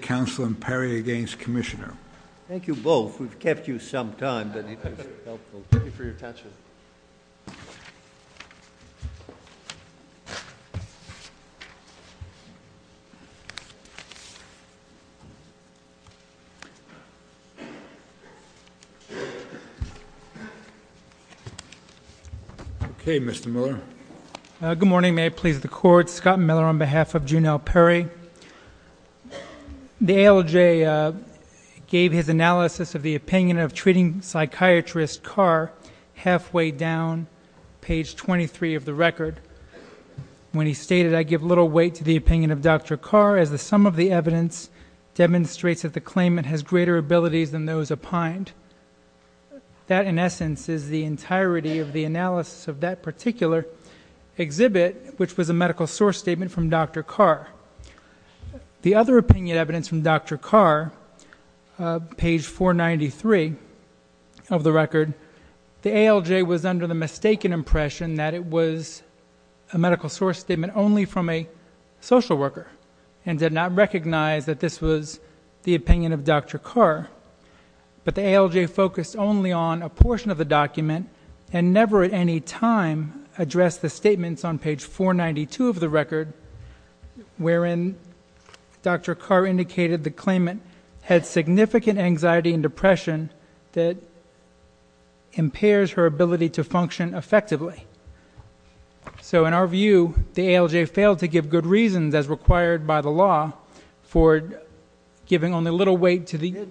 Council and Perry against Commissioner. Thank you both. We've kept you some time, but it was helpful. Thank you for your attention. Okay, Mr. Miller. Good morning. May it please the court. Scott Miller on behalf of Junell Perry. The ALJ gave his analysis of the opinion of treating psychiatrist Carr halfway down page 23 of the record when he stated, I give little weight to the opinion of Dr. Carr as the sum of the evidence demonstrates that the claimant has greater abilities than those opined. That, in essence, is the entirety of the analysis of that particular exhibit, which was a medical source statement from Dr. Carr. The other opinion evidence from Dr. Carr, page 493 of the record, the ALJ was under the mistaken impression that it was a medical source statement only from a social worker and did not recognize that this was the opinion of Dr. Carr. But the ALJ focused only on a portion of the document and never at any time addressed the statements on page 492 of the record wherein Dr. Carr indicated the claimant had significant anxiety and depression that impairs her ability to function effectively. So, in our view, the ALJ failed to give good reasons, as required by the law, for giving only little weight to the-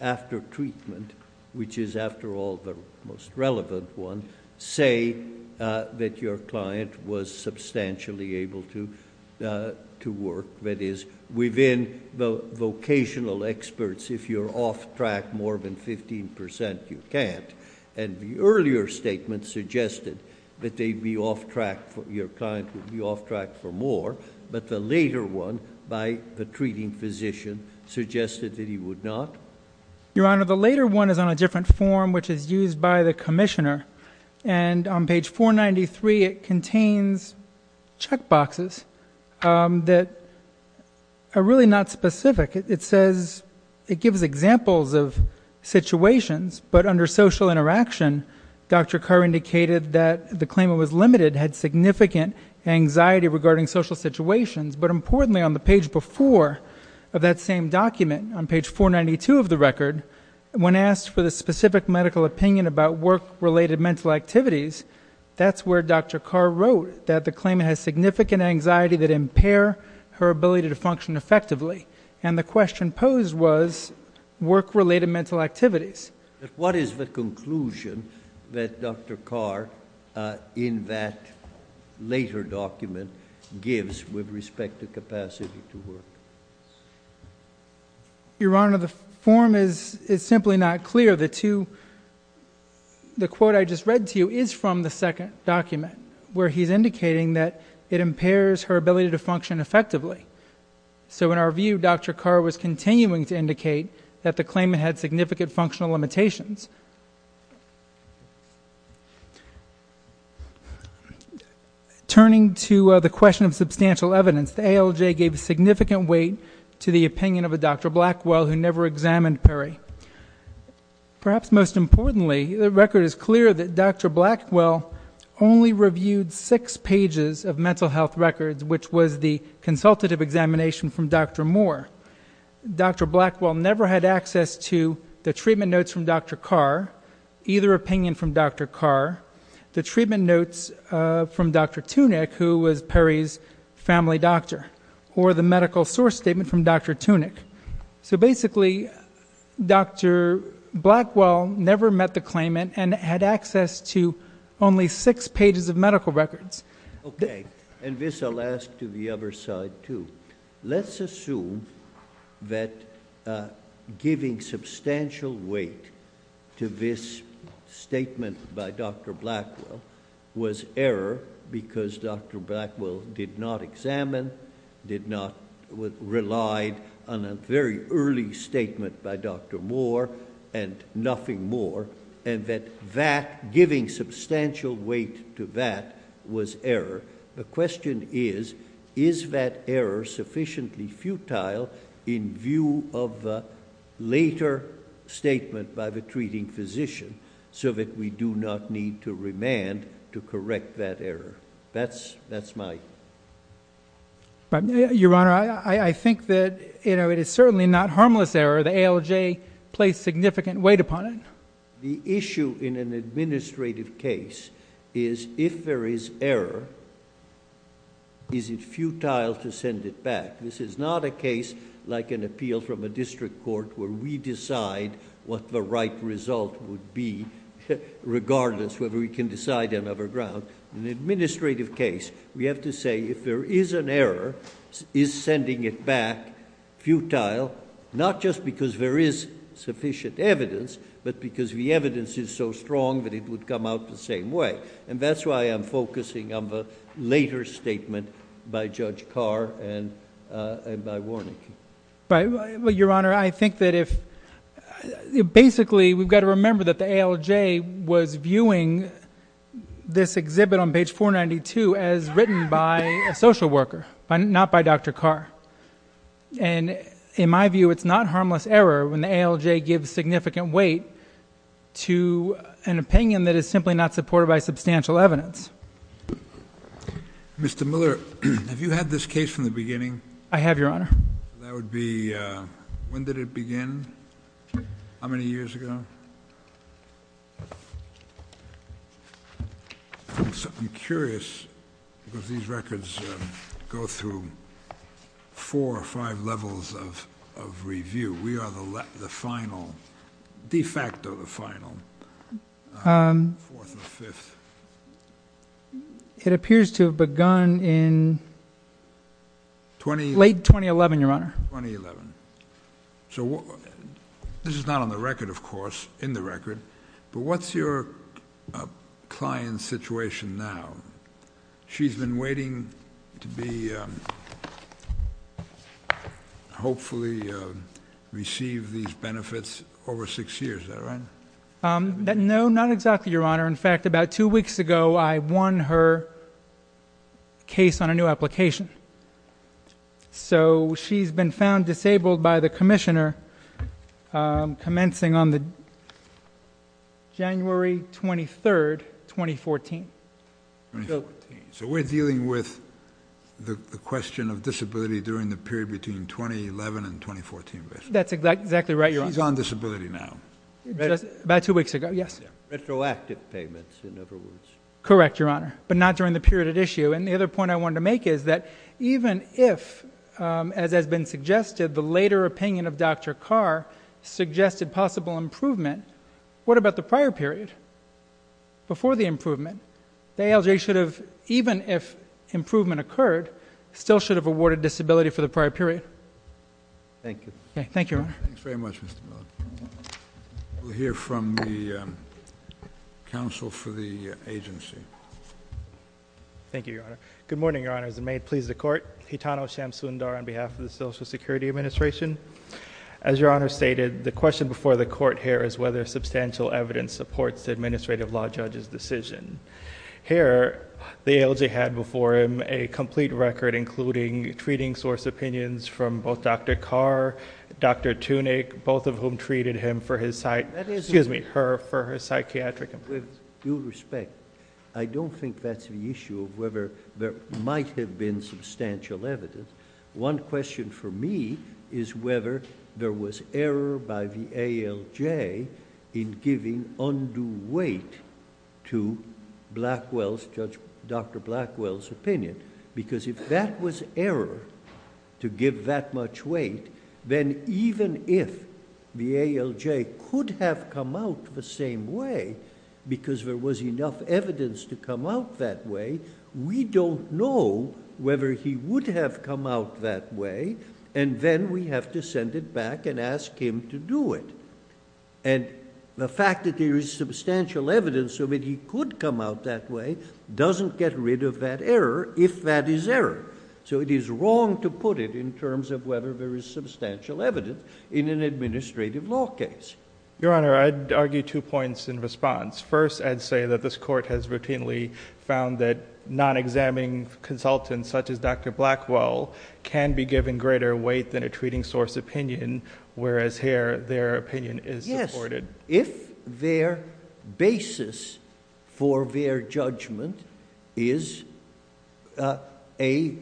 after treatment, which is, after all, the most relevant one, say that your client was substantially able to work. That is, within the vocational experts, if you're off track more than 15%, you can't. And the earlier statement suggested that they'd be off track for- your client would be off track for more. But the later one, by the treating physician, suggested that he would not. Your Honor, the later one is on a different form, which is used by the commissioner. And on page 493, it contains checkboxes that are really not specific. It says, it gives examples of situations, but under social interaction, Dr. Carr indicated that the claimant was limited, had significant anxiety regarding social situations. But importantly, on the page before of that same document, on page 492 of the record, when asked for the specific medical opinion about work-related mental activities, that's where Dr. Carr wrote that the claimant has significant anxiety that impair her ability to function effectively. And the question posed was work-related mental activities. What is the conclusion that Dr. Carr, in that later document, gives with respect to capacity to work? Your Honor, the form is simply not clear. The quote I just read to you is from the second document, where he's indicating that it impairs her ability to function effectively. So in our view, Dr. Carr was continuing to indicate that the claimant had significant functional limitations. Turning to the question of substantial evidence, the ALJ gave significant weight to the opinion of a Dr. Blackwell, who never examined Perry. Perhaps most importantly, the record is clear that Dr. Blackwell only reviewed six pages of mental health records, which was the consultative examination from Dr. Moore. Dr. Blackwell never had access to the treatment notes from Dr. Carr, either opinion from Dr. Carr, the treatment notes from Dr. Tunick, who was Perry's family doctor, or the medical source statement from Dr. Tunick. So basically, Dr. Blackwell never met the claimant and had access to only six pages of medical records. Okay, and this I'll ask to the other side, too. Let's assume that giving substantial weight to this statement by Dr. Blackwell was error, because Dr. Blackwell did not examine, did not, relied on a very early statement by Dr. Moore, and nothing more, and that giving substantial weight to that was error. The question is, is that error sufficiently futile in view of the later statement by the treating physician so that we do not need to remand to correct that error? That's my... Your Honor, I think that it is certainly not harmless error. The ALJ placed significant weight upon it. The issue in an administrative case is if there is error, is it futile to send it back? This is not a case like an appeal from a district court where we decide what the right result would be, regardless whether we can decide on other ground. In an administrative case, we have to say if there is an error, is sending it back futile, not just because there is sufficient evidence, but because the evidence is so strong that it would come out the same way. That's why I'm focusing on the later statement by Judge Carr and by Warnick. Your Honor, I think that if... Basically, we've got to remember that the ALJ was viewing this exhibit on page 492 as written by a social worker, not by Dr. Carr. In my view, it's not harmless error when the ALJ gives significant weight to an opinion that is simply not supported by substantial evidence. Mr. Miller, have you had this case from the beginning? I have, Your Honor. That would be... When did it begin? How many years ago? I'm curious, because these records go through four or five levels of review. We are the final, de facto the final, fourth or fifth. It appears to have begun in late 2011, Your Honor. 2011. So this is not on the record, of course, in the record, but what's your client's situation now? She's been waiting to hopefully receive these benefits over six years, is that right? No, not exactly, Your Honor. In fact, about two weeks ago, I won her case on a new application. So she's been found disabled by the commissioner commencing on the January 23rd, 2014. 2014. So we're dealing with the question of disability during the period between 2011 and 2014, basically. That's exactly right, Your Honor. She's on disability now. About two weeks ago, yes. Retroactive payments, in other words. Correct, Your Honor, but not during the period at issue. And the other point I wanted to make is that even if, as has been suggested, the later opinion of Dr. Carr suggested possible improvement, what about the prior period? Before the improvement, the ALJ should have, even if improvement occurred, still should have awarded disability for the prior period. Thank you. Okay, thank you, Your Honor. Thanks very much, Mr. Miller. We'll hear from the counsel for the agency. Thank you, Your Honor. Good morning, Your Honors, and may it please the Court. Hitano Shamsundar on behalf of the Social Security Administration. As Your Honor stated, the question before the Court here is whether substantial evidence supports the administrative law judge's decision. Here, the ALJ had before him a complete record, including treating source opinions from both Dr. Carr, Dr. Tunick, both of whom treated him for his side, excuse me, her for her psychiatric appointments. With due respect, I don't think that's the issue of whether there might have been substantial evidence. One question for me is whether there was error by the ALJ in giving undue weight to Dr. Blackwell's opinion, because if that was error to give that much weight, then even if the ALJ could have come out the same way because there was enough evidence to come out that way, we don't know whether he would have come out that way, and then we have to send it back and ask him to do it. And the fact that there is substantial evidence of it, he could come out that way, doesn't get rid of that error if that is error. So it is wrong to put it in terms of whether there is substantial evidence in an administrative law case. Your Honor, I'd argue two points in response. First, I'd say that this court has routinely found that non-examining consultants such as Dr. Blackwell can be given greater weight than a treating source opinion, whereas here their opinion is supported. If their basis for their judgment is a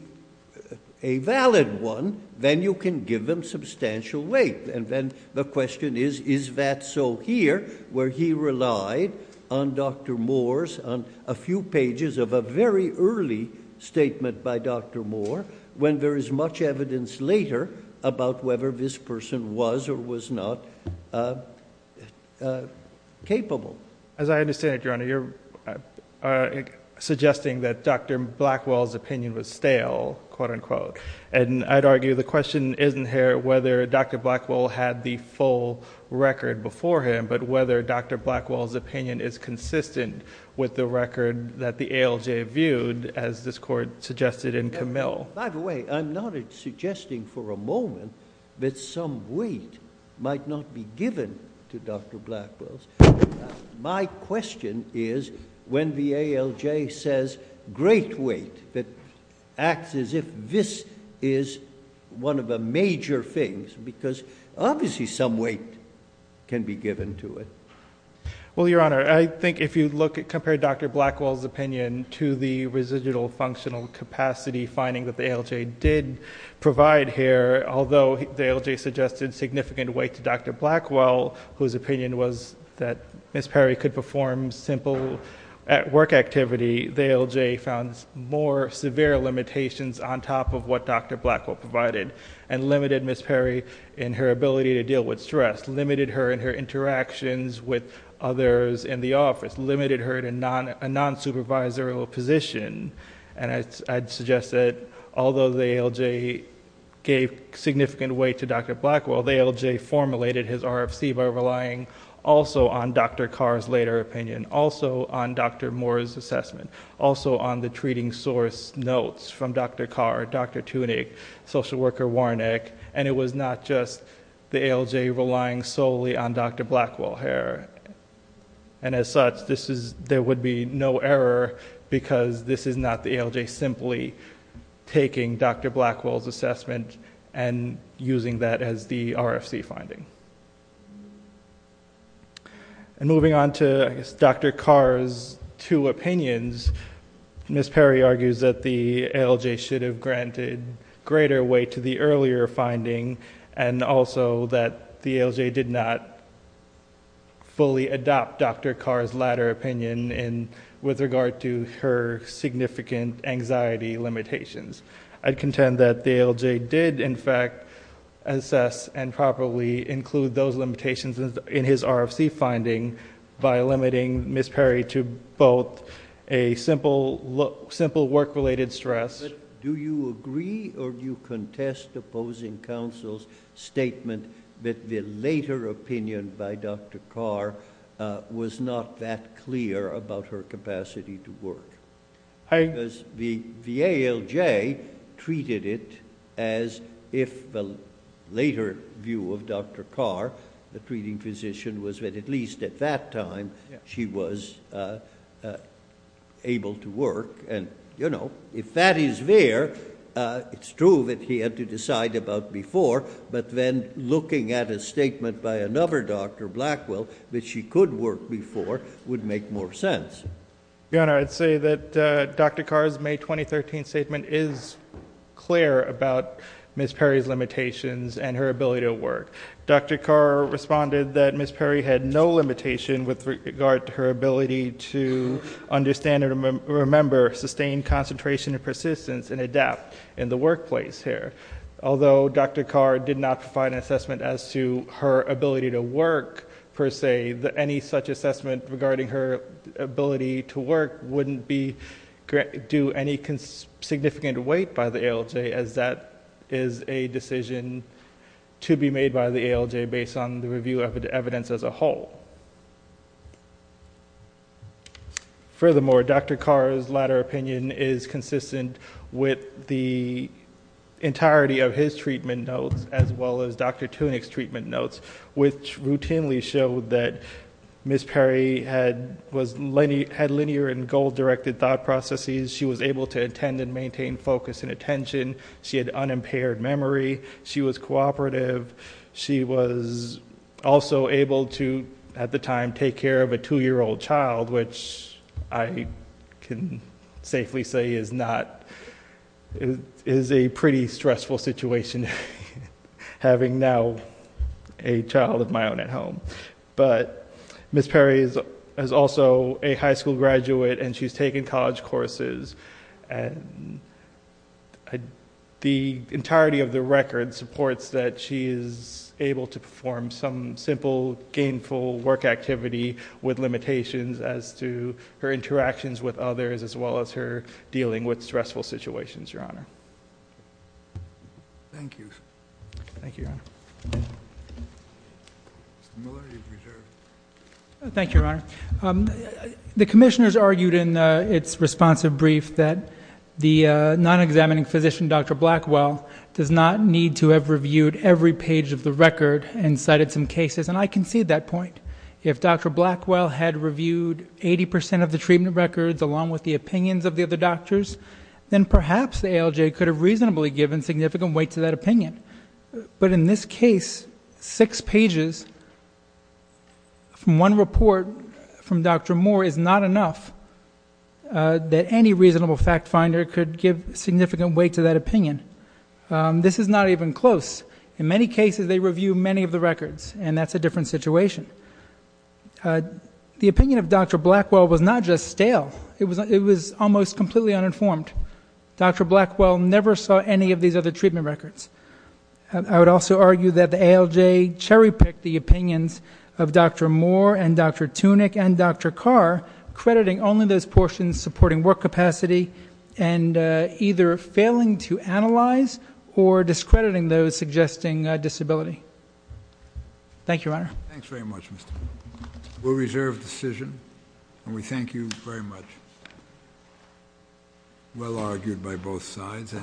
valid one, then you can give them substantial weight. And then the question is, is that so here, where he relied on Dr. Moore's, on a few pages of a very early statement by Dr. Moore, when there is much evidence later about whether this person was or was not capable. As I understand it, Your Honor, you're suggesting that Dr. Blackwell's opinion was stale, quote-unquote. And I'd argue the question isn't here whether Dr. Blackwell had the full record before him, but whether Dr. Blackwell's opinion is consistent with the record that the ALJ viewed, as this court suggested in Camille. By the way, I'm not suggesting for a moment that some weight might not be given to Dr. Blackwell's. My question is when the ALJ says great weight, that acts as if this is one of the major things, because obviously some weight can be given to it. Well, Your Honor, I think if you look at, compare Dr. Blackwell's opinion to the ALJ did provide here, although the ALJ suggested significant weight to Dr. Blackwell, whose opinion was that Ms. Perry could perform simple work activity, the ALJ found more severe limitations on top of what Dr. Blackwell provided, and limited Ms. Perry in her ability to deal with stress, limited her in her interactions with others in the office, limited her in a non-supervisory position. I'd suggest that although the ALJ gave significant weight to Dr. Blackwell, the ALJ formulated his RFC by relying also on Dr. Carr's later opinion, also on Dr. Moore's assessment, also on the treating source notes from Dr. Carr, Dr. Tunick, social worker Warnick, and it was not just the ALJ relying solely on Dr. Blackwell here. And as such, there would be no error because this is not the ALJ simply taking Dr. Blackwell's assessment and using that as the RFC finding. And moving on to Dr. Carr's two opinions, Ms. Perry argues that the ALJ should have adopted Dr. Carr's latter opinion with regard to her significant anxiety limitations. I'd contend that the ALJ did, in fact, assess and properly include those limitations in his RFC finding by limiting Ms. Perry to both a simple work-related stress... was not that clear about her capacity to work. Because the ALJ treated it as if the later view of Dr. Carr, the treating physician, was that at least at that time, she was able to work. And if that is there, it's true that he had to decide about before, but then looking at a statement by another Dr. Blackwell that she could work before would make more sense. Your Honor, I'd say that Dr. Carr's May 2013 statement is clear about Ms. Perry's limitations and her ability to work. Dr. Carr responded that Ms. Perry had no limitation with regard to her ability to understand and remember, sustain concentration and persistence, and adapt in the workplace here. Although Dr. Carr did not provide an assessment as to her ability to work, per se, any such assessment regarding her ability to work wouldn't do any significant weight by the ALJ, as that is a decision to be made by the ALJ based on the review of the evidence as a whole. Furthermore, Dr. Carr's latter opinion is consistent with the entirety of his treatment notes, as well as Dr. Tunick's treatment notes, which routinely showed that Ms. Perry had linear and goal-directed thought processes. She was able to attend and maintain focus and attention. She had unimpaired memory. She was cooperative. She was also able to, at the time, take care of a two-year-old child, which I can safely say is a pretty stressful situation, having now a child of my own at home. Ms. Perry is also a high school graduate, and she's taken college courses. And the entirety of the record supports that she is able to perform some simple, gainful work activity with limitations as to her interactions with others, as well as her dealing with stressful situations, Your Honor. Thank you. Thank you, Your Honor. Thank you, Your Honor. The commissioners argued in its responsive brief that the non-examining physician, Dr. Blackwell, does not need to have reviewed every page of the record and cited some cases. And I concede that point. If Dr. Blackwell had reviewed 80% of the treatment records, along with the opinions of the other doctors, then perhaps the ALJ could have reasonably given significant weight to that opinion. But in this case, six pages from one report from Dr. Moore is not enough that any reasonable fact finder could give significant weight to that opinion. This is not even close. In many cases, they review many of the records, and that's a different situation. The opinion of Dr. Blackwell was not just stale. It was almost completely uninformed. Dr. Blackwell never saw any of these other treatment records. I would also argue that the ALJ cherry-picked the opinions of Dr. Moore and Dr. Tunick and Dr. Carr, crediting only those portions supporting work capacity and either failing to analyze or discrediting those suggesting disability. Thank you, Your Honor. Thanks very much, Mr. Blackwell. We'll reserve decision, and we thank you very much. Well argued by both sides.